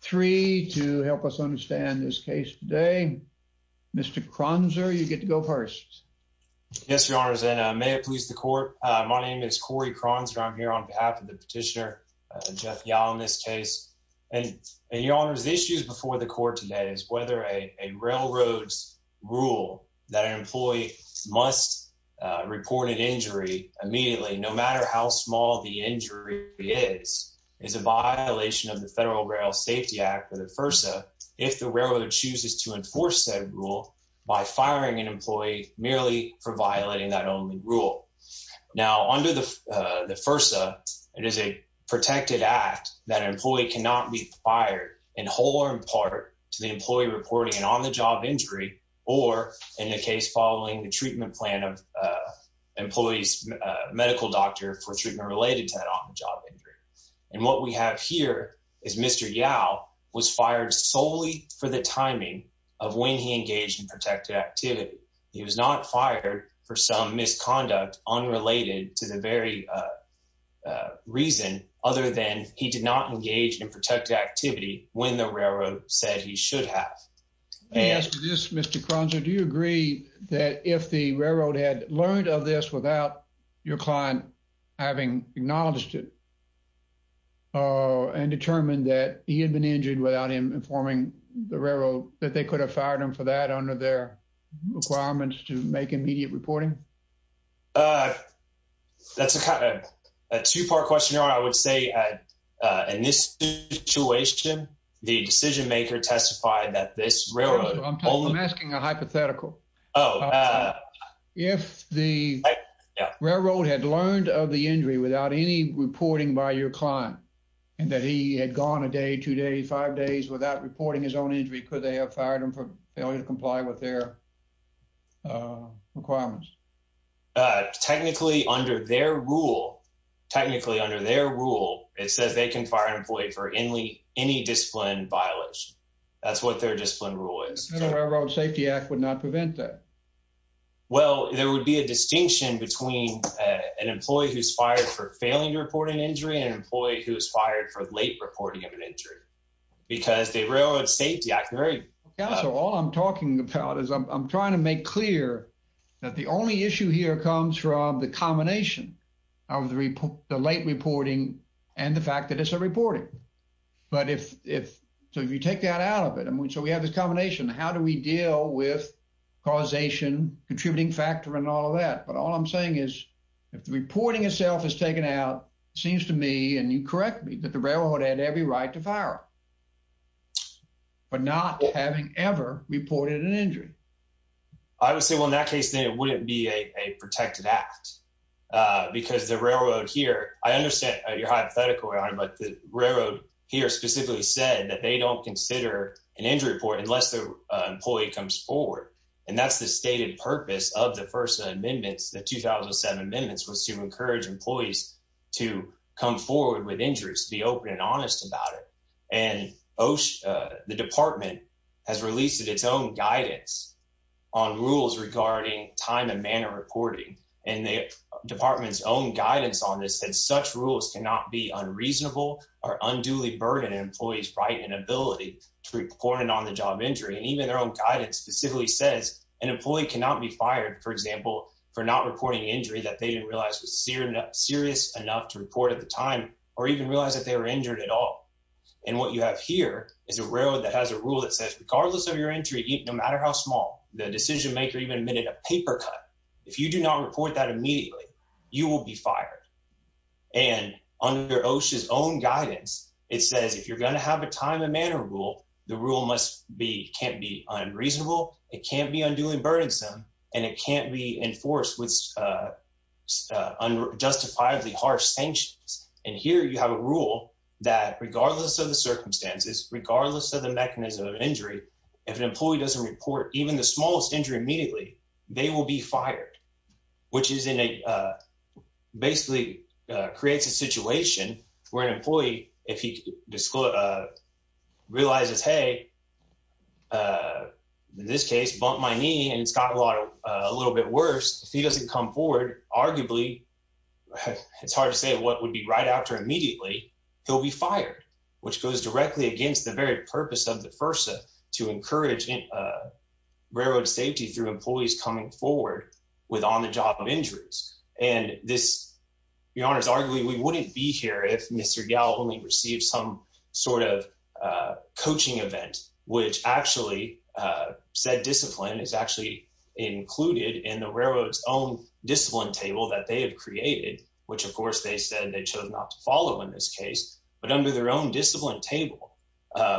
three to help us understand this case today. Mr. Kronzer, you get to go first. Yes, your honors, and may it please the court. My name is Corey Kronzer. I'm here on behalf of the petitioner, Jeff Yowell, in this case. And your honors, the issue before the court today is whether a railroad's rule that an employee must report an injury immediately, no matter how the injury is, is a violation of the Federal Rail Safety Act or the FERSA if the railroad chooses to enforce that rule by firing an employee merely for violating that only rule. Now, under the FERSA, it is a protected act that an employee cannot be fired in whole or in part to the employee reporting an on-the-job injury or, in the case following the treatment plan of employees, a medical doctor for treatment related to that on-the-job injury. And what we have here is Mr. Yowell was fired solely for the timing of when he engaged in protected activity. He was not fired for some misconduct unrelated to the very reason, other than he did not engage in protected activity when the railroad said he should have. Let me ask you this, Mr. Kronzer. Do you agree that if the railroad had learned of this without your client having acknowledged it and determined that he had been injured without him informing the railroad that they could have fired him for that under their requirements to make immediate reporting? That's a kind of a two-part questionnaire. I would say in this situation, the decision maker testified that this is hypothetical. If the railroad had learned of the injury without any reporting by your client and that he had gone a day, two days, five days without reporting his own injury, could they have fired him for failure to comply with their requirements? Technically, under their rule, technically under their rule, it says they can fire an employee for any discipline violation. That's what their discipline rule is. The Railroad Safety Act would not prevent that. Well, there would be a distinction between an employee who's fired for failing to report an injury and an employee who's fired for late reporting of an injury. Because the Railroad Safety Act very... Counsel, all I'm talking about is I'm trying to make clear that the only issue here comes from the combination of the late reporting and the fact that it's a reporting. So if you take that out of it, so we have this combination. How do we deal with causation, contributing factor, and all of that? But all I'm saying is if the reporting itself is taken out, it seems to me, and you correct me, that the railroad had every right to fire him, but not having ever reported an injury. I would say, well, in that case, then it wouldn't be a protected act. Because the railroad here, I understand your hypothetical, Your Honor, but the employee comes forward. And that's the stated purpose of the first amendments, the 2007 amendments, was to encourage employees to come forward with injuries, to be open and honest about it. And the department has released its own guidance on rules regarding time and manner reporting. And the department's own guidance on this said such rules cannot be unreasonable or unduly burden an employee's right and ability to report an on-the-job injury. And even their own guidance specifically says an employee cannot be fired, for example, for not reporting injury that they didn't realize was serious enough to report at the time or even realize that they were injured at all. And what you have here is a railroad that has a rule that says regardless of your injury, no matter how small, the decision maker even admitted a paper cut, if you do not report that you're going to have a time and manner rule, the rule can't be unreasonable, it can't be unduly burdensome, and it can't be enforced with unjustifiably harsh sanctions. And here you have a rule that regardless of the circumstances, regardless of the mechanism of injury, if an employee doesn't report even the smallest injury immediately, they will be fired, which basically creates a situation where an employee, if he realizes, hey, in this case, bumped my knee and it's gotten a little bit worse, if he doesn't come forward, arguably, it's hard to say what would be right after immediately, he'll be fired, which goes directly against the very purpose of the FERSA to encourage railroad safety through employees coming forward with on-the-job injuries. And this, Your Honors, arguably, we wouldn't be here if Mr. Gallo only received some sort of coaching event, which actually said discipline is actually included in the railroad's own discipline table that they have created, which, of course, they said they chose not to follow in this case, but under their own discipline table,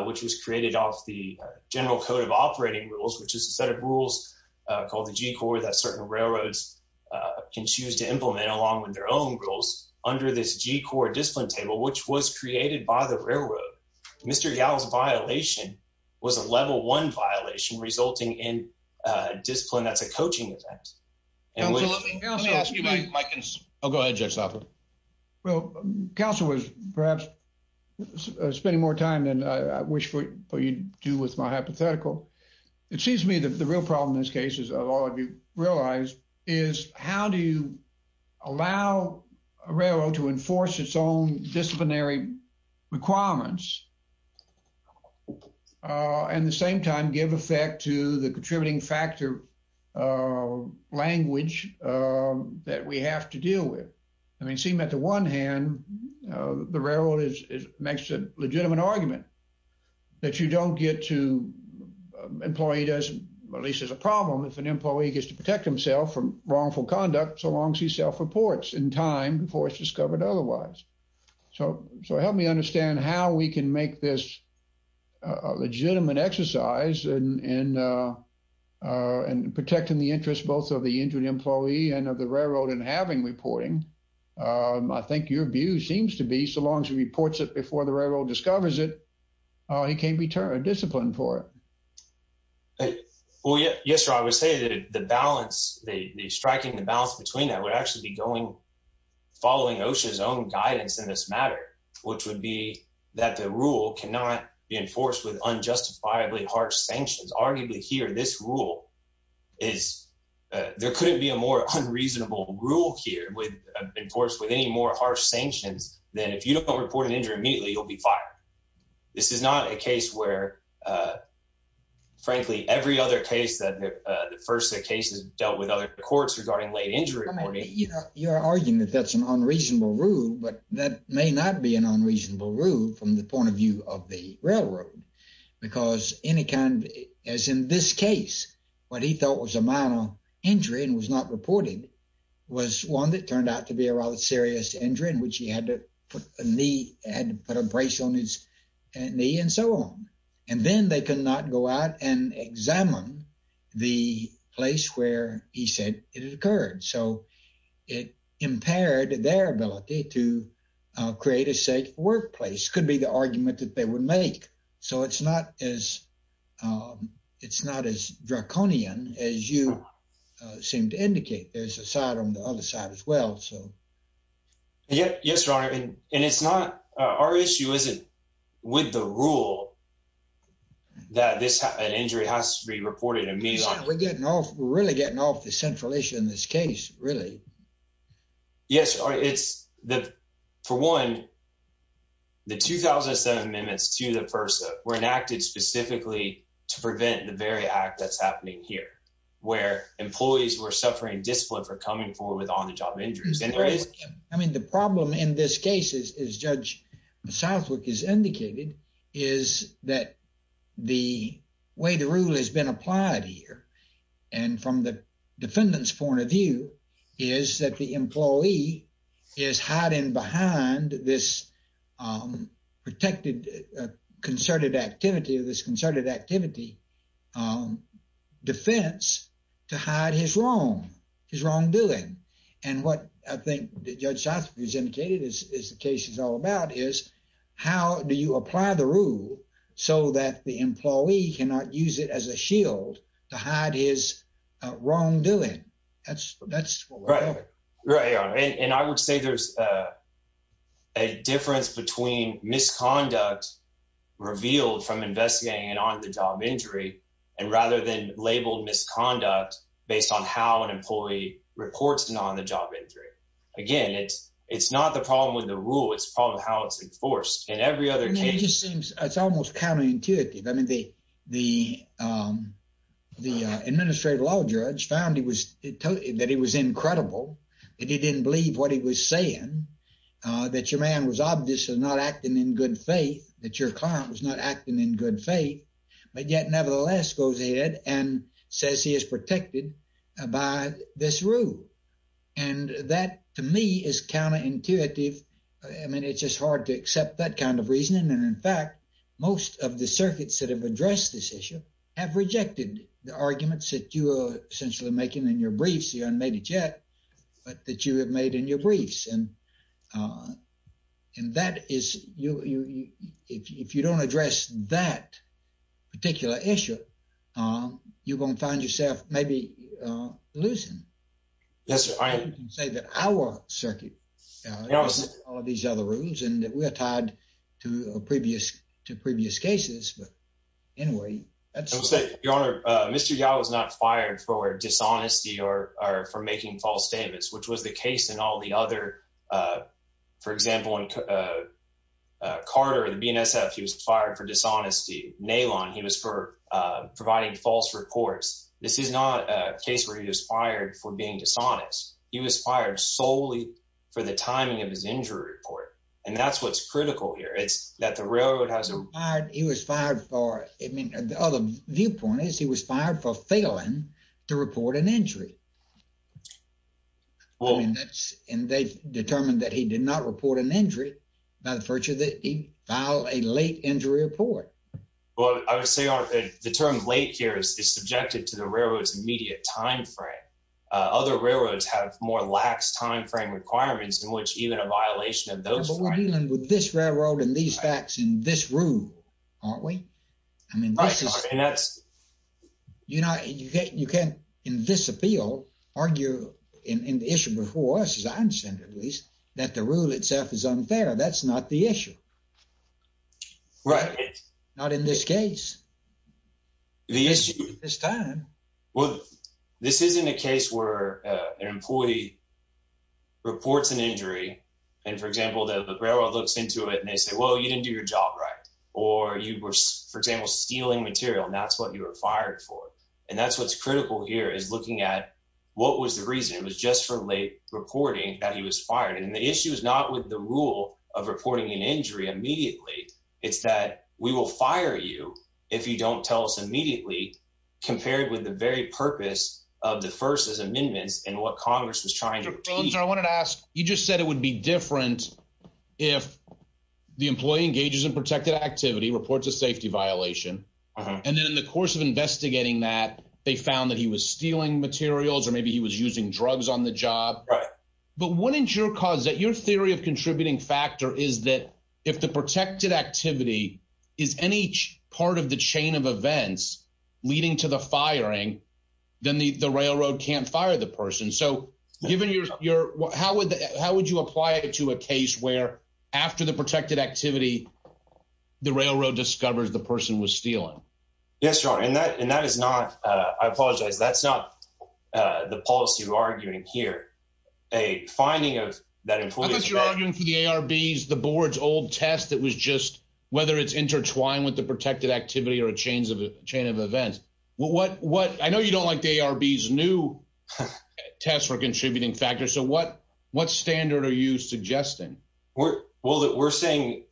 which was created off the General Code of Operating Rules, which is a called the G-Core that certain railroads can choose to implement along with their own rules under this G-Core discipline table, which was created by the railroad. Mr. Gallo's violation was a level one violation resulting in a discipline that's a coaching event. And let me ask you, Mike. Oh, go ahead, Judge Southerland. Well, counsel was perhaps spending more time than I wish for you to do with my hypothetical. It seems to me that the real problem in this case, as all of you realize, is how do you allow a railroad to enforce its own disciplinary requirements and at the same time give effect to the contributing factor language that we have to deal with? I mean, it seemed that the one hand, the railroad makes a legitimate argument that you don't get to employee, at least as a problem, if an employee gets to protect himself from wrongful conduct so long as he self-reports in time before it's discovered otherwise. So help me understand how we can make this a legitimate exercise in protecting the interests both of the injured employee and of the railroad in having reporting. I think your view seems to be so long as he reports it before the railroad discovers it, he can't be disciplined for it. Well, yes, sir. I would say that the balance, the striking the balance between that would actually be going following OSHA's own guidance in this matter, which would be that the rule cannot be enforced with unjustifiably harsh sanctions. Arguably here, this rule is, there couldn't be a more unreasonable rule here with enforced with any more harsh sanctions than if you don't report an injury immediately, you'll be fired. This is not a case where, frankly, every other case that the first set cases dealt with other courts regarding late injury. You're arguing that that's an unreasonable rule, but that may not be an unreasonable rule from the point of view of the railroad, because any kind of, as in this case, what he thought was a minor injury and was not reported was one that turned out to be a rather serious injury in which he had to put a knee, had to put a brace on his knee and so on. And then they could not go out and examine the place where he said it occurred. So it impaired their ability to create a safe workplace, could be the argument that they would make. So it's not as it's not as draconian as you seem to indicate. There's a side on the other side as well. So yes, yes, your honor. And it's not our issue, is it with the rule that this injury has to be reported? I mean, we're getting off. We're really getting off the central issue in this case, really. Yes, it's the for one, the 2007 amendments to the FERSA were enacted specifically to prevent the very act that's happening here, where employees were suffering discipline for coming forward with on the job injuries. I mean, the problem in this case is, as Judge Southwick has indicated, is that the way the rule has been applied here and from the defendant's point of view is that the employee is hiding behind this protected concerted activity of this concerted activity defense to hide his wrong, his wrongdoing. And what I think Judge Southwick has indicated is the case is all about is how do you apply the rule so that the employee cannot use it as a shield to hide his wrongdoing? That's that's right. Right. And I would say there's a difference between misconduct revealed from investigating an on the job injury and rather than labeled misconduct based on how an employee reports an on the job injury. Again, it's it's not the problem with the rule. It's it just seems it's almost counterintuitive. I mean, the the the administrative law judge found he was that he was incredible, that he didn't believe what he was saying, that your man was obviously not acting in good faith, that your client was not acting in good faith. But yet, nevertheless, goes ahead and says he is protected by this rule. And that to me is counterintuitive. I mean, it's just hard to accept that kind of reasoning. And in fact, most of the circuits that have addressed this issue have rejected the arguments that you are essentially making in your briefs. You haven't made it yet, but that you have made in your briefs. And that is you if you don't address that particular issue, you're going to find yourself maybe losing. Yes, I say that our circuit knows all of these other rules and we're tied to previous to previous cases. But anyway, that's your honor. Mr. Yao was not fired for dishonesty or for making false statements, which was the case in all the other. For example, in Carter, the BNSF, he was fired for dishonesty. Nalon, he was for providing false reports. This is not a case where he was fired for being dishonest. He was fired solely for the timing of his injury report. And that's what's critical here. It's that the railroad has a hard he was fired for. I mean, the other viewpoint is he was fired for failing to report an injury. Well, and they determined that he did not report an injury by the virtue that he filed a late injury report. Well, I would say the term late here is subjected to the railroad's immediate time frame. Other railroads have more lax time frame requirements in which even a violation of those. We're dealing with this railroad and these facts in this room, aren't we? I mean, that's you know, you can't you can't in this appeal argue in the issue before us is I understand at least that the rule itself is unfair. That's not the issue. Right. Not in this case. The issue is time. Well, this isn't a case where an employee reports an injury. And for example, the railroad looks into it and they say, well, you didn't do your job right. Or you were, for example, stealing material. And that's what you were fired for. And that's what's critical here is looking at what was the reason it was just for late reporting that he was fired. And the issue is not with the rule of reporting an injury immediately. It's that we will fire you if you don't tell us immediately, compared with the very purpose of the first as amendments and what Congress was trying to do. I wanted to ask you just said it would be different if the employee engages in protected activity reports a safety violation. And then in the course of investigating that they found that he was stealing materials or maybe he was using drugs on the job. But wouldn't your cause that your theory of contributing factor is that if the protected activity is any part of the chain of events leading to the firing, then the railroad can't fire the person. So given your how would how would you apply it to a case where after the protected activity, the railroad discovers the person was stealing? Yes. And that and that is not I apologize. That's not the policy you're arguing here. A finding of that is you're arguing for the ARBs, the board's old test that was just whether it's intertwined with the protected activity or a chain of chain of events. What what I know you don't like the ARBs new test for contributing factors. So what what standard are you suggesting? Well, we're saying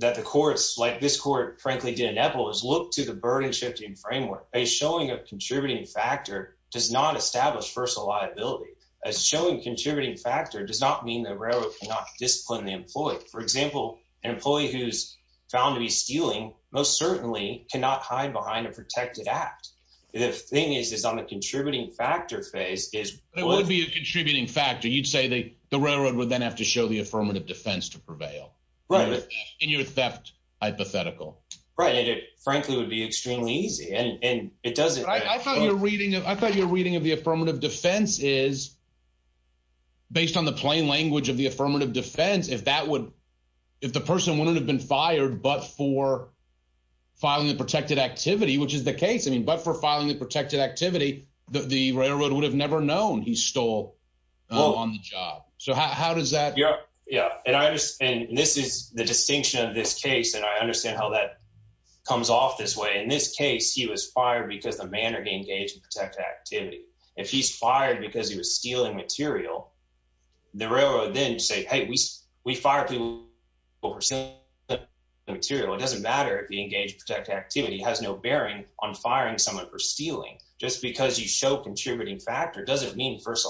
that the courts like this court, frankly, didn't have to look to the framework. A showing of contributing factor does not establish first a liability as showing contributing factor does not mean the railroad cannot discipline the employee. For example, an employee who's found to be stealing most certainly cannot hide behind a protected act. The thing is, is on the contributing factor phase is it would be a contributing factor. You'd say that the railroad would then have to show the affirmative defense to prevail in your theft hypothetical. Right. And it, frankly, would be extremely easy. And it doesn't. I thought you're reading. I thought you're reading of the affirmative defense is. Based on the plain language of the affirmative defense, if that would if the person wouldn't have been fired, but for filing the protected activity, which is the case, I mean, but for filing the protected activity, the railroad would have never known he stole on the job. So how does that? Yeah, and I just and this is the distinction of this case, and I understand how that comes off this way. In this case, he was fired because the manner to engage in protected activity. If he's fired because he was stealing material, the railroad then say, hey, we we fire people over material. It doesn't matter if you engage protected activity has no bearing on firing someone for stealing just because you show contributing factor doesn't mean first a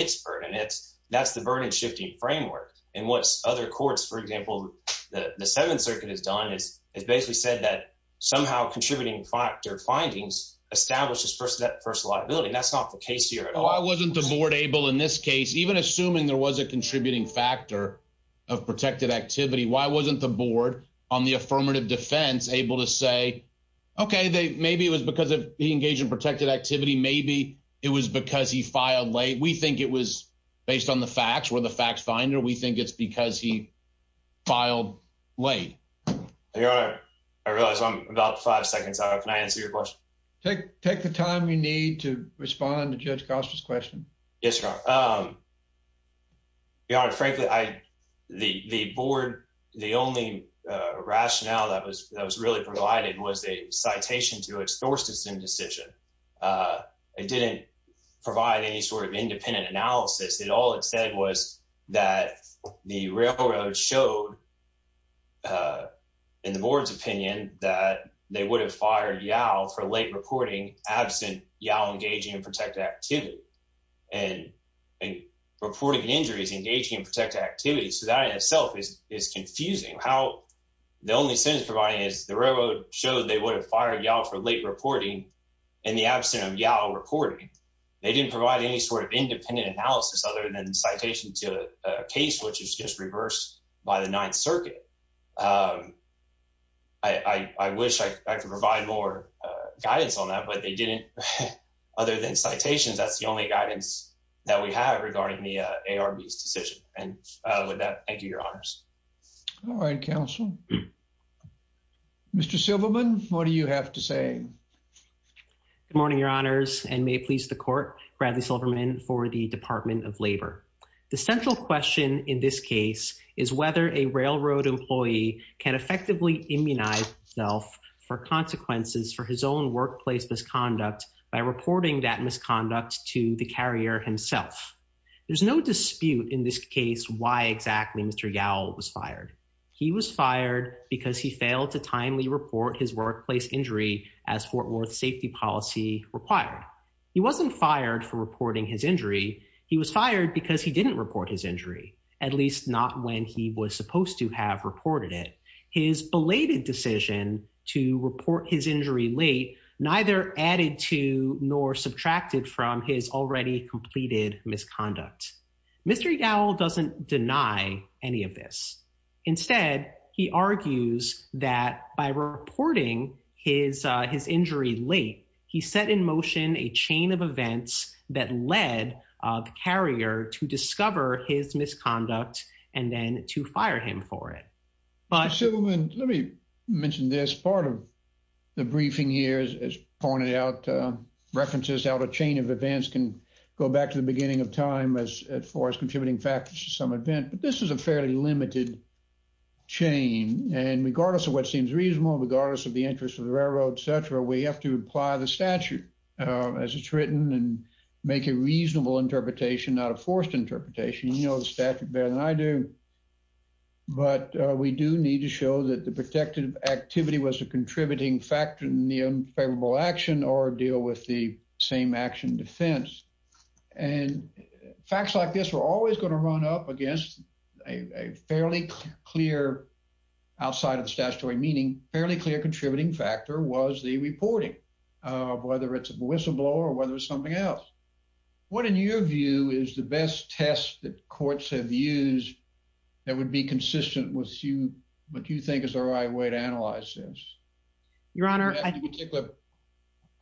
expert. And it's that's the burden shifting framework. And what's other courts, for example, the Seventh Circuit has done is basically said that somehow contributing factor findings establishes first that first liability. That's not the case here. Why wasn't the board able in this case, even assuming there was a contributing factor of protected activity? Why wasn't the board on the affirmative defense able to say, OK, maybe it was because he engaged in protected activity. Maybe it was because he filed late. We think it was based on the facts were the fact finder. We think it's because he filed late. I realize I'm about five seconds. I can answer your question. Take take the time you need to respond to Judge Cosper's question. Yes. Yeah, frankly, I the board. The only rationale that was that was really provided was a citation to its Thorstenson decision. It didn't provide any sort of independent analysis. It all it said was that the railroad showed. In the board's opinion that they would have fired you out for late reporting absent, you know, engaging in protected activity and reporting injuries, engaging in protected activity. So that itself is confusing how the only sense providing is the railroad showed they would have fired y'all for late reporting in the absence of y'all reporting. They didn't provide any sort of independent analysis other than citation to a case which is just reversed by the Ninth Circuit. I wish I could provide more guidance on that, but they didn't. Other than citations, that's the only guidance that we have regarding the ARB's Mr. Silverman, what do you have to say? Good morning, Your Honors, and may it please the court. Bradley Silverman for the Department of Labor. The central question in this case is whether a railroad employee can effectively immunize self for consequences for his own workplace misconduct by reporting that misconduct to the carrier himself. There's no dispute in this report his workplace injury as Fort Worth safety policy required. He wasn't fired for reporting his injury. He was fired because he didn't report his injury, at least not when he was supposed to have reported it. His belated decision to report his injury late neither added to nor subtracted from his already completed misconduct. Mr. Gowell doesn't deny any of this. Instead, he argues that by reporting his injury late, he set in motion a chain of events that led the carrier to discover his misconduct and then to fire him for it. Mr. Silverman, let me mention this part of the briefing here as pointed out references out a chain of events can go back to the beginning of time as as far as contributing factors to some event, but this is a fairly limited chain and regardless of what seems reasonable, regardless of the interest of the railroad, etc., we have to apply the statute as it's written and make a reasonable interpretation, not a forced interpretation. You know the statute better than I do, but we do need to show that the protective activity was a contributing factor in the unfavorable action or deal with the same action defense and facts like this are always going to run up against a fairly clear, outside of the statutory meaning, fairly clear contributing factor was the reporting of whether it's a whistleblower or whether it's something else. What in your view is the best test that courts have used that would be to analyze this? Your honor, I think a particular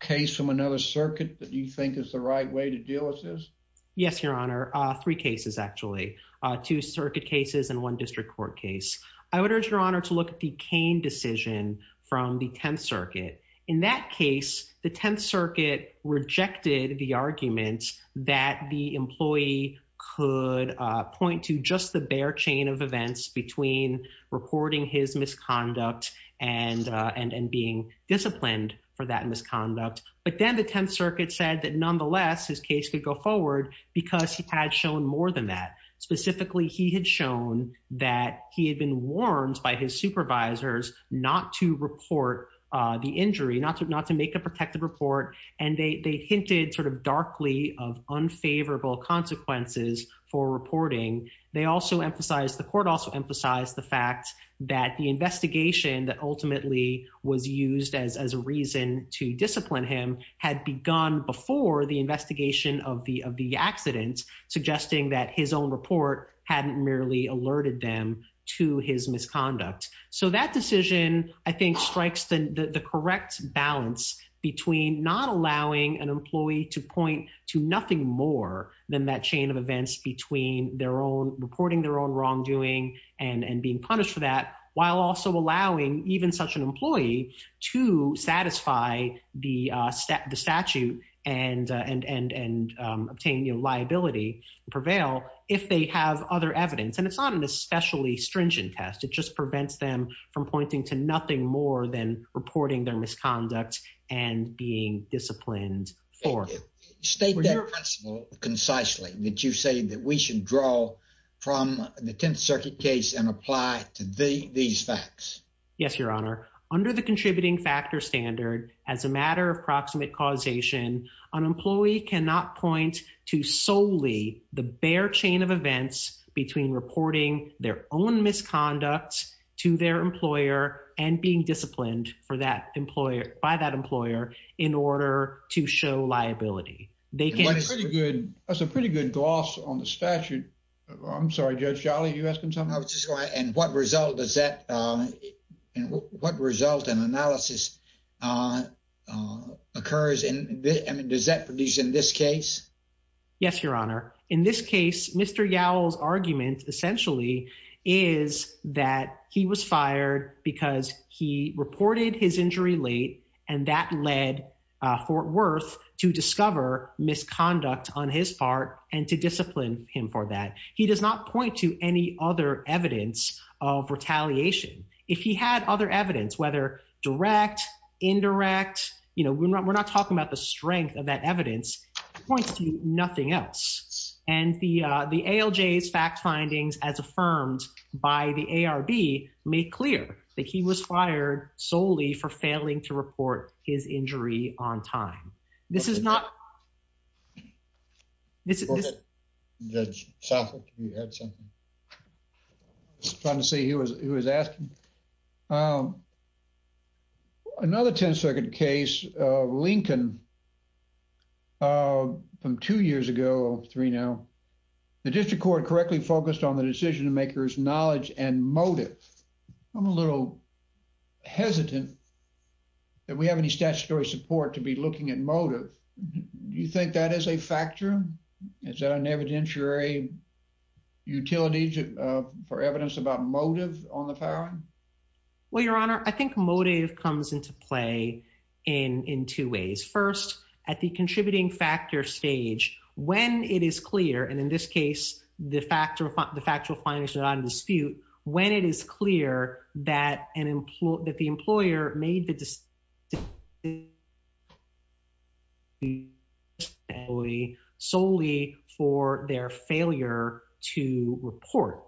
case from another circuit that you think is the right way to deal with this? Yes, your honor. Three cases actually. Two circuit cases and one district court case. I would urge your honor to look at the Cain decision from the 10th circuit. In that case, the 10th circuit rejected the argument that the employee could point to just the bare chain of and being disciplined for that misconduct. But then the 10th circuit said that nonetheless, his case could go forward because he had shown more than that. Specifically, he had shown that he had been warned by his supervisors not to report the injury, not to make a protective report, and they hinted sort of darkly of unfavorable consequences for reporting. They also was used as a reason to discipline him had begun before the investigation of the accident, suggesting that his own report hadn't merely alerted them to his misconduct. So that decision, I think, strikes the correct balance between not allowing an employee to point to nothing more than that chain of events between reporting their own wrongdoing and being punished for that, while also allowing even such an employee to satisfy the statute and obtain liability and prevail if they have other evidence. And it's not an especially stringent test. It just prevents them from pointing to nothing more than reporting their misconduct and being disciplined. State that principle concisely that you say that we should draw from the 10th circuit case and apply to the these facts. Yes, Your Honor. Under the contributing factor standard, as a matter of proximate causation, an employee cannot point to solely the bare chain of events between reporting their own misconduct to their employer and being disciplined for that employer by that employer in order to show liability. They can pretty good. That's a pretty good gloss on the result. Does that what result in analysis occurs? And does that produce in this case? Yes, Your Honor. In this case, Mr. Gowell's argument essentially is that he was fired because he reported his injury late and that led Fort Worth to discover misconduct on his part and to discipline him for that. He does not point to any other evidence of retaliation. If he had other evidence, whether direct, indirect, you know, we're not we're not talking about the strength of that evidence points to nothing else. And the ALJ's fact findings, as affirmed by the ARB, make clear that he was fired solely for failing to report his injury on time. This is not. It's a good judge. You had something to say. He was he was asking. Another 10 second case, Lincoln. From two years ago, three now, the district court correctly focused on the decision makers, knowledge and motive. I'm a little hesitant that we have any statutory support to be looking at motive. Do you think that is a factor? Is that an evidentiary utility for evidence about motive on the power? Well, Your Honor, I think motive comes into play in in two ways. First, at the contributing factor stage, when it is clear and in this case, the factor of the the only solely for their failure to report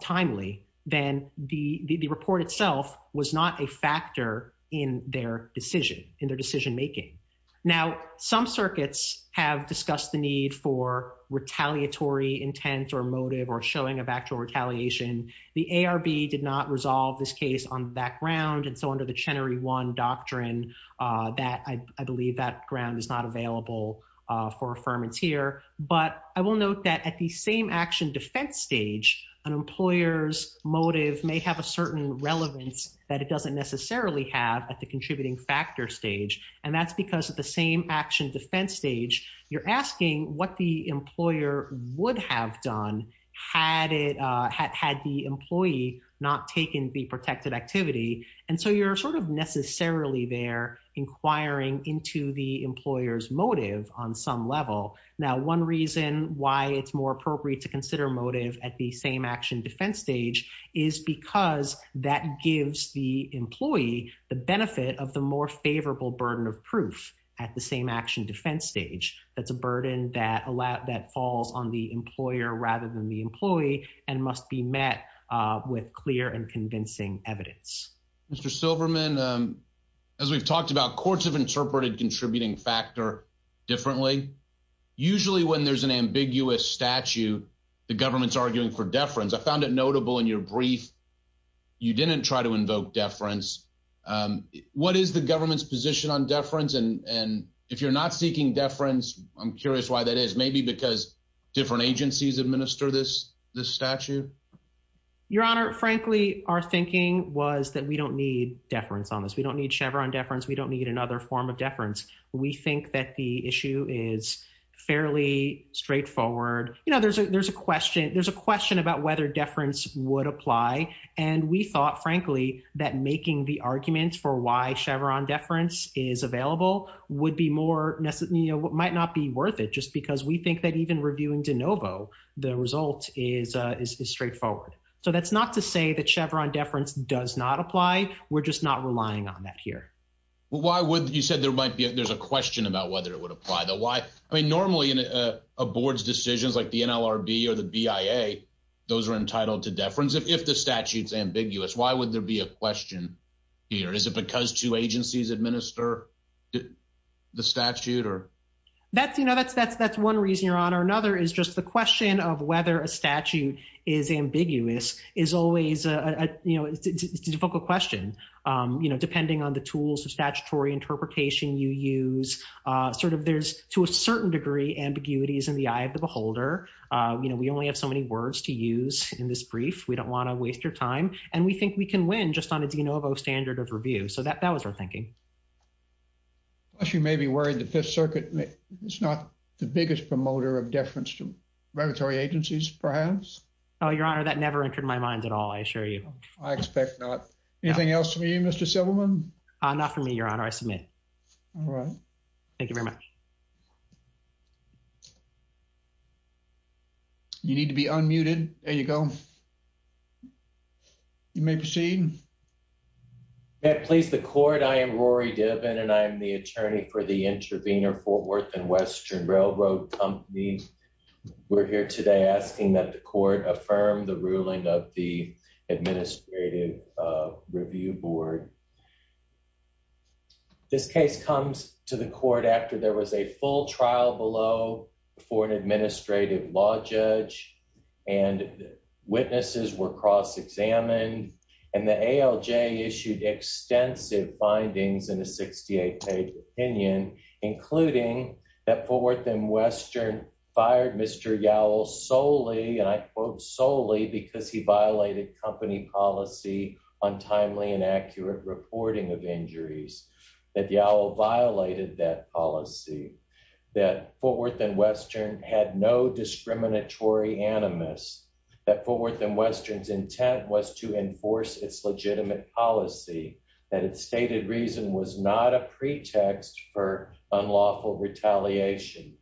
timely, then the the report itself was not a factor in their decision in their decision making. Now, some circuits have discussed the need for retaliatory intent or motive or showing of actual retaliation. The ARB did not resolve this case on that ground. And so under the Chenery one doctrine that I believe that ground is not available for affirmance here. But I will note that at the same action defense stage, an employer's motive may have a certain relevance that it doesn't necessarily have at the contributing factor stage. And that's because of the same action defense stage. You're asking what the And so you're sort of necessarily there inquiring into the employer's motive on some level. Now, one reason why it's more appropriate to consider motive at the same action defense stage is because that gives the employee the benefit of the more favorable burden of proof at the same action defense stage. That's a burden that allows that falls on the employer rather than the employee and must be met with clear and convincing evidence. Mr. Silverman, as we've talked about, courts have interpreted contributing factor differently. Usually when there's an ambiguous statute, the government's arguing for deference. I found it notable in your brief. You didn't try to invoke deference. What is the government's position on deference? And if you're not seeking deference, I'm curious why that is, maybe because different agencies administer this, this statute. Your Honor, frankly, our thinking was that we don't need deference on this. We don't need Chevron deference. We don't need another form of deference. We think that the issue is fairly straightforward. You know, there's a there's a question. There's a question about whether deference would apply. And we thought, frankly, that making the arguments for why Chevron deference is available would be more necessary. You know, it might not be worth it just because we think that even reviewing de novo, the result is straightforward. So that's not to say that Chevron deference does not apply. We're just not relying on that here. Why would you said there might be there's a question about whether it would apply, though? Why? I mean, normally in a board's decisions like the NLRB or the BIA, those are entitled to deference. If the statute's ambiguous, why would there be a question here? Is it because two agencies administer the statute or? That's you know, that's that's that's one reason, Your Honor. Another is just the question of whether a statute is ambiguous is always a difficult question. You know, depending on the tools of statutory interpretation you use, sort of there's to a certain degree, ambiguities in the eye of the beholder. You know, we only have so many words to use in this brief. We don't want to waste your time. And we think we can win just on a de novo standard of review. So that that was our thinking. You may be worried that this circuit is not the biggest promoter of deference to regulatory agencies, perhaps. Oh, Your Honor, that never entered my mind at all. I assure you, I expect not. Anything else for you, Mr. Silverman? Not for me, Your Honor. I submit. All right. Thank you very much. You need to be unmuted. There you go. You may proceed. May I please the court? I am Rory Diven and I am the attorney for the Intervenor Fort Worth and Western Railroad Company. We're here today asking that the court affirm the ruling of the Administrative Review Board. This case comes to the court after there was a full trial below for an administrative law judge and witnesses were cross-examined and the ALJ issued extensive findings in a 68-page opinion, including that Fort Worth and Western fired Mr. Yowell solely, and I quote, solely because he violated company policy on timely and accurate reporting of injuries, that Yowell violated that policy, that Fort Worth and Western had no discriminatory animus, that Fort Worth and Western's intent was to enforce its legitimate policy, that its stated reason was not a pretext for unlawful retaliation,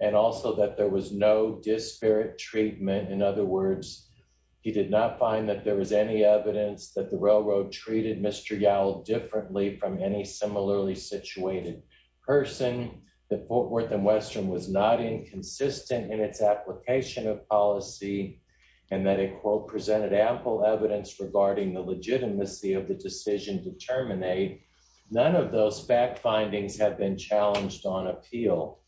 and also that there was no disparate treatment. In other words, he did not find that there was any evidence that the railroad treated Mr. Yowell differently from any similarly situated person, that Fort Worth and Western was not inconsistent in its application of policy, and that it, quote, presented ample evidence regarding the legitimacy of the decision to terminate. None of those fact findings have been challenged on appeal.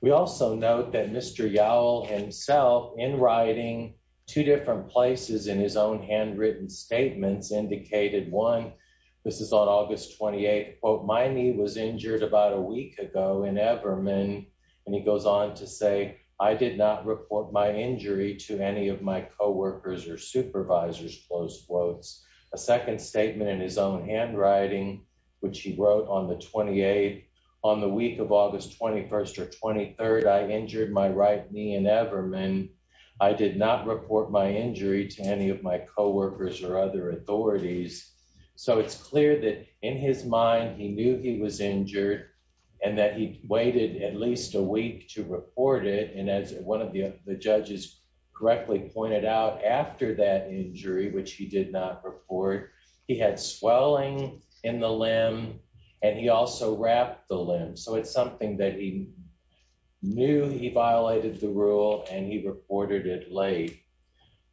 We also note that Mr. Yowell himself, in writing two different places in his own handwritten statements, indicated one, this is on August 28, quote, my knee was injured about a week ago in Everman, and he goes on to say, I did not report my injury to any of my co-workers or supervisors, close quotes. A second statement in his own handwriting, which he wrote on the 28th, on the week of August 21st or 23rd, I injured my right knee in Everman. I did not report my injury to any of my co-workers or other authorities. So it's clear that in his mind, he knew he was injured and that he waited at least a week to report it. And as one of the judges correctly pointed out, after that injury, which he did not report, he had swelling in the limb and he also wrapped the limb. So it's something that he knew he violated the rule and he reported it late.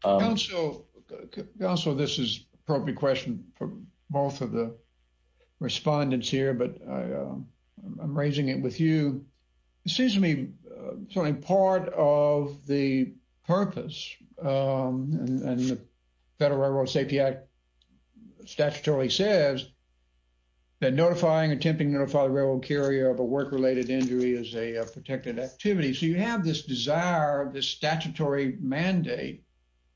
Counsel, this is appropriate question for both of the respondents here, but I'm raising it with you. It seems to me, certainly part of the purpose and the Federal Railroad Safety Act statutorily says that notifying, attempting to notify the railroad carrier of a work-related injury is a protected activity. So you have this desire, this statutory mandate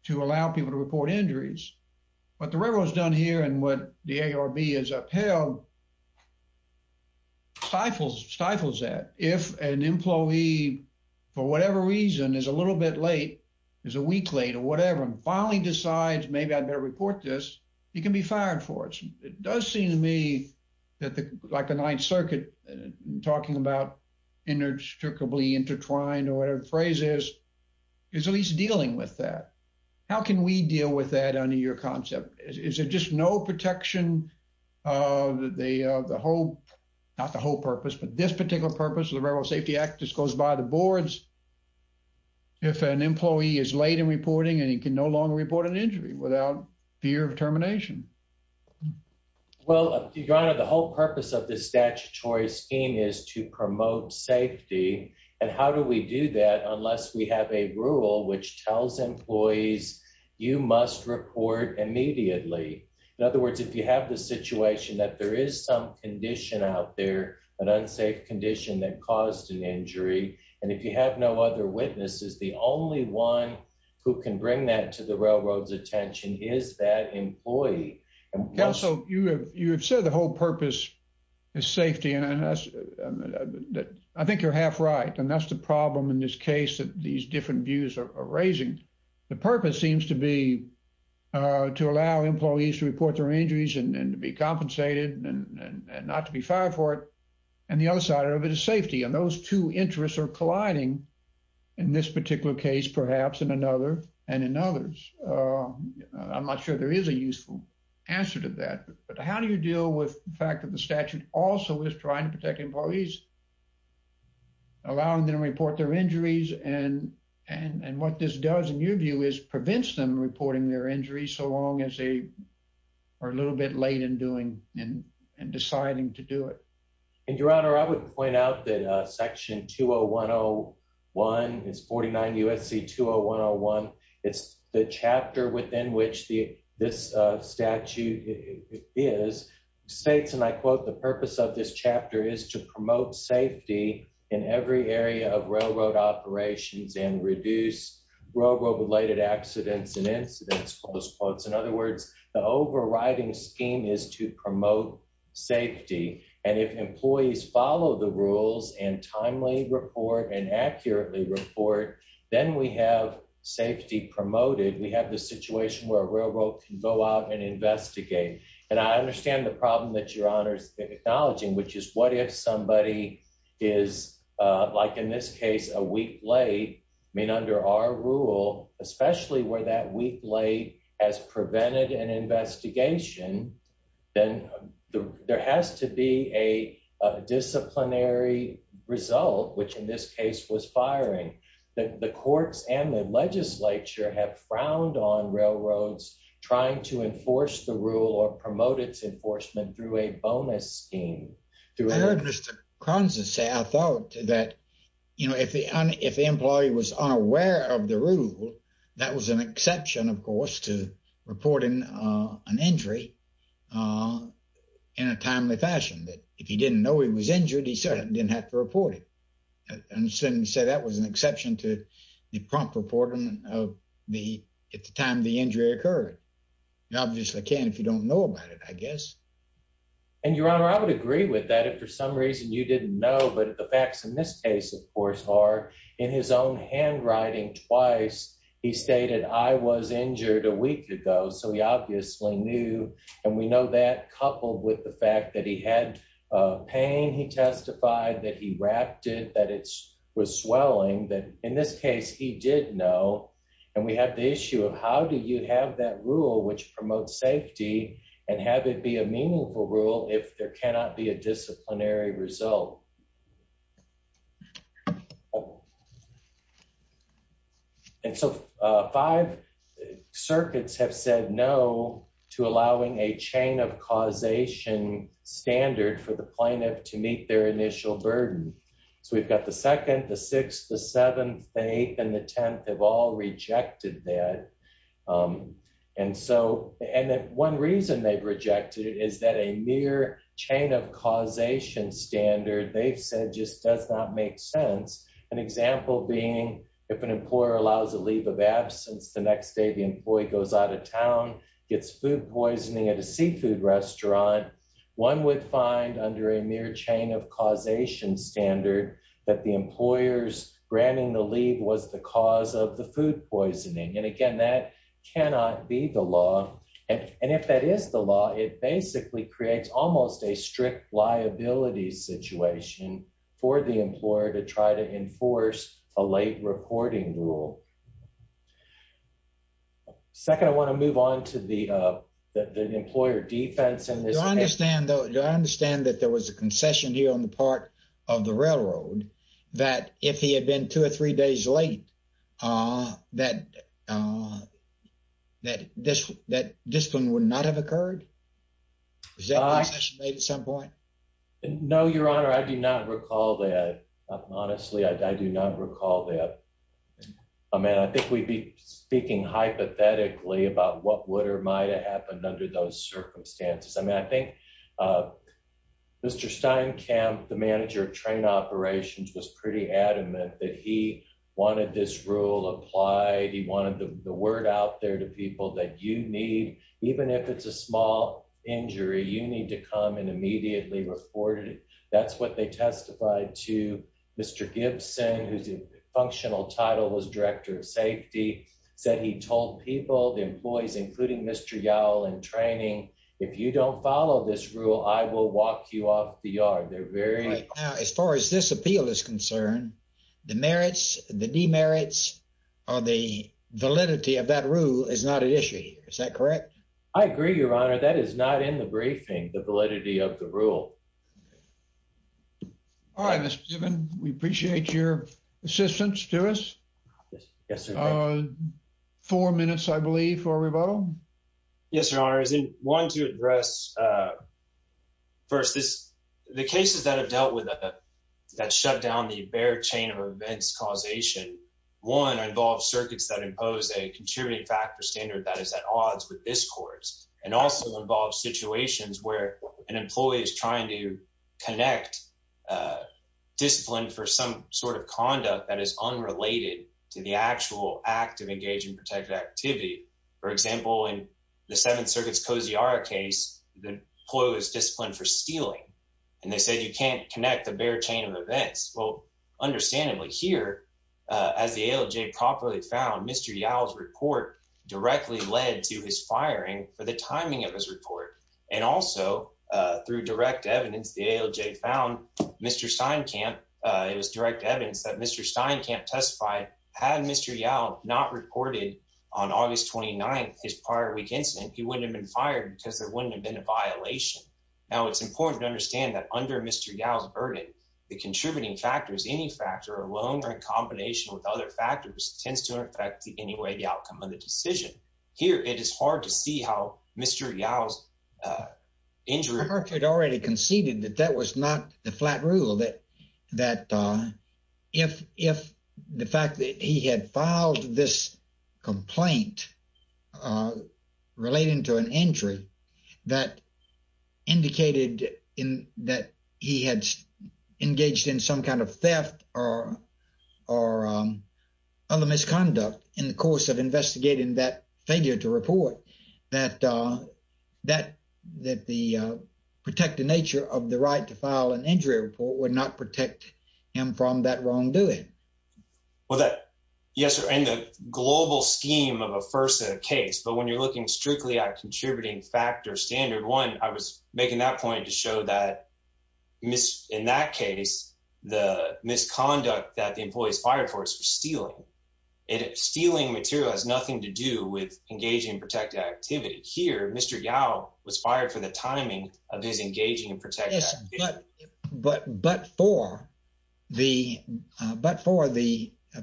to allow people to report injuries. What the railroad has done here and what the ARB has upheld stifles that. If an employee for whatever reason is a little bit late, is a week late or whatever, and finally decides, maybe I'd better report this, he can be fired for it. It does seem to me that like the Ninth Circuit talking about inextricably intertwined or whatever the phrase is, is at least dealing with that. How can we deal with that under your concept? Is it just no protection of the whole, not the whole purpose, but this particular purpose of the Railroad Safety Act just goes by the boards if an employee is late in reporting and he can no longer report an injury without fear of termination? Well, Your Honor, the whole purpose of this statutory scheme is to promote safety. And how do we do that unless we have a rule which tells employees, you must report immediately. In other words, if you have the situation that there is some condition out there, an unsafe condition that caused an injury, and if you have no other witnesses, the only one who can bring that to the railroad's attention is that employee. Counsel, you have said the whole purpose is safety and I think you're half right. And that's the problem in this case that these different views are raising. The purpose seems to be to allow employees to report their injuries and to be safe. And those two interests are colliding in this particular case, perhaps in another and in others. I'm not sure there is a useful answer to that, but how do you deal with the fact that the statute also is trying to protect employees, allowing them to report their injuries and what this does in your view is prevents them reporting their injuries so long as they are a little bit late in doing and deciding to do it. And your honor, I would point out that section 201-01, it's 49 U.S.C. 201-01, it's the chapter within which the this statute is states, and I quote, the purpose of this chapter is to promote safety in every area of railroad operations and reduce railroad related accidents and incidents, close quotes. In other words, the overriding scheme is to promote safety and if employees follow the rules and timely report and accurately report, then we have safety promoted. We have the situation where a railroad can go out and investigate. And I understand the problem that your honor is acknowledging, which is what if somebody is, like in this case, a week late, I mean under our rule, especially where that week late has prevented an investigation, then there has to be a disciplinary result, which in this case was firing. The courts and the legislature have frowned on railroads trying to enforce the rule or promote its enforcement through a bonus scheme. I heard Mr. Kronza say, I thought that, you know, if the employee was unaware of the rule, that was an exception, of course, to reporting an injury in a timely fashion, that if he didn't know he was injured, he certainly didn't have to report it. And he said that was an exception to the prompt reporting of the, at the time the injury occurred. You obviously can if you don't know about it, I guess. And your honor, I would agree with that. If for some reason you didn't know, but the facts in this case, of course, are in his own handwriting twice, he stated, I was injured a week ago. So he obviously knew. And we know that coupled with the fact that he had pain, he testified that he wrapped it, that it was swelling, that in this case he did know. And we have the issue of how do you have that rule which promotes safety and have it be a meaningful rule if there cannot be a disciplinary result? And so five circuits have said no to allowing a chain of causation standard for the plaintiff to meet their initial burden. So we've got the second, the sixth, the seventh, the eighth, the tenth have all rejected that. And so, and one reason they've rejected it is that a mere chain of causation standard they've said just does not make sense. An example being if an employer allows a leave of absence, the next day the employee goes out of town, gets food poisoning at a seafood restaurant, one would find under a mere chain of causation standard that the employers granting the leave was the cause of the food poisoning. And again, that cannot be the law. And if that is the law, it basically creates almost a strict liability situation for the employer to try to enforce a late reporting rule. Second, I want to move on to the employer defense. And I understand that there was a concession here on the part of the railroad that if he had been two or three days late, uh, that, uh, that this, that this one would not have occurred. Is that a concession made at some point? No, your honor. I do not recall that. Honestly, I do not recall that. I mean, I think we'd be speaking hypothetically about what would or might've happened under those circumstances. I mean, I think, uh, Mr. Steinkamp, the manager of train operations was pretty adamant that he wanted this rule applied. He wanted the word out there to people that you need, even if it's a small injury, you need to come and immediately report it. That's what they testified to. Mr. Gibson, whose functional title was director of safety said, he told people, the employees, including Mr. Yowell in training, if you don't this rule, I will walk you off the yard. They're very, as far as this appeal is concerned, the merits, the demerits or the validity of that rule is not an issue here. Is that correct? I agree, your honor. That is not in the briefing, the validity of the rule. All right, Mr. Gibbons. We appreciate your assistance to us. Yes. Four minutes, I believe for rebuttal. Yes, your honor is in one to address, uh, first this, the cases that have dealt with that shut down the bear chain of events causation. One involves circuits that impose a contributing factor standard that is at odds with this course and also involves situations where an employee is trying to connect, uh, discipline for some sort of conduct that is for example, in the seventh circuits, cozy our case, the ploy was disciplined for stealing. And they said, you can't connect the bear chain of events. Well, understandably here, uh, as the ALJ properly found Mr. Yowell's report directly led to his firing for the timing of his report. And also, uh, through direct evidence, the ALJ found Mr. Steinkamp, uh, it was direct evidence that Mr. Stein can't testify. Had Mr. Yao not reported on August 29th, his prior week incident, he wouldn't have been fired because there wouldn't have been a violation. Now it's important to understand that under Mr. Yao's burden, the contributing factors, any factor alone or in combination with other factors tends to affect the anyway, the outcome of the decision here. It is hard to see how Mr. Yao's, uh, injury had already conceded that that was not the flat rule that, uh, if, if the fact that he had filed this complaint, uh, relating to an injury that indicated in that he had engaged in some kind of theft or, or, um, other misconduct in the course of investigating that failure to report that, uh, that, that the, uh, protected nature of the right to file an injury report would not protect him from that wrongdoing. Well, that, yes, sir. And the global scheme of a FERSA case, but when you're looking strictly at contributing factor standard one, I was making that point to show that in that case, the misconduct that the employees fired for is for stealing. And stealing material has nothing to do with engaging in protected activity. Here, Mr. Yao was fired for the timing of his engaging in protected activity. Yes, but, but, but for the, uh, but for the, uh,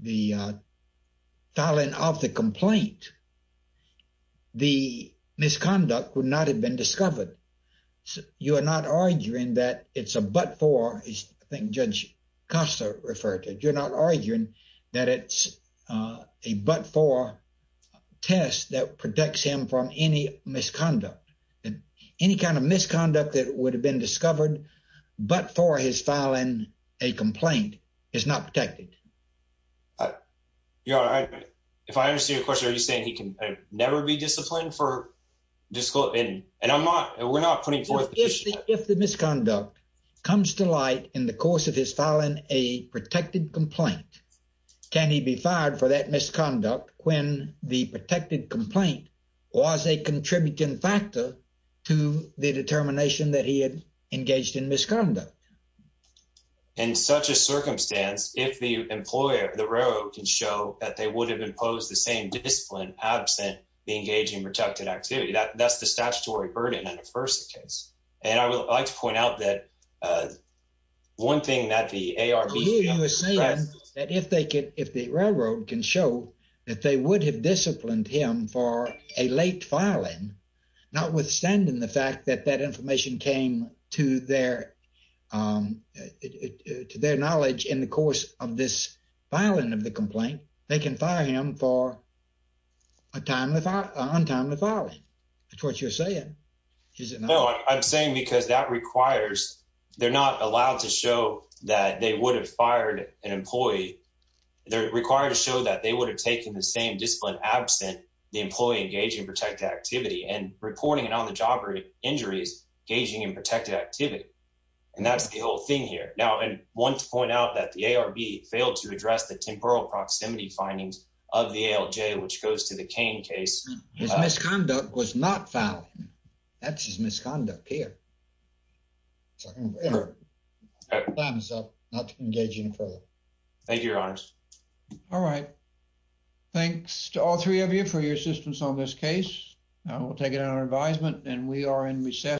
the, uh, filing of the complaint, the misconduct would not have been discovered. You are not arguing that it's a, but for, I think Judge Costa referred to it. You're not arguing that it's, uh, a, but for tests that protects him from any misconduct and any kind of misconduct that would have been discovered, but for his filing, a complaint is not protected. You know, if I understand your question, are you saying he can never be disciplined for discipline? And I'm not, we're not putting forth. If the, if the misconduct comes to light in the course of his filing, a protected complaint, can he be fired for that misconduct when the protected complaint was a contributing factor to the determination that he had engaged in misconduct? In such a circumstance, if the employer, the railroad can show that they would have imposed the same discipline absent the engaging in protected activity, that that's the statutory burden in the first case. And I would like to point out that, uh, one thing that the ARB was saying that if they could, if the railroad can show that they would have disciplined him for a late filing, notwithstanding the fact that that information came to their, um, to their knowledge in the course of this filing of the complaint, they can fire him for a timely, untimely filing. That's what you're saying. Is it not? No, I'm saying because that requires, they're not allowed to show that they would have fired an employee. They're required to show that they would have taken the same discipline absent the employee engaging in protected activity and reporting it on the job or injuries gauging and protected activity. And that's the whole thing here now. And one point out that the ARB failed to address the temporal proximity findings of the ALJ, which goes to the cane case. His misconduct was not found. That's his misconduct here. Time is up not to engage in further. Thank you, your honors. All right. Thanks to all three of you for your assistance on this case. We'll take it on our advisement and we are in recess.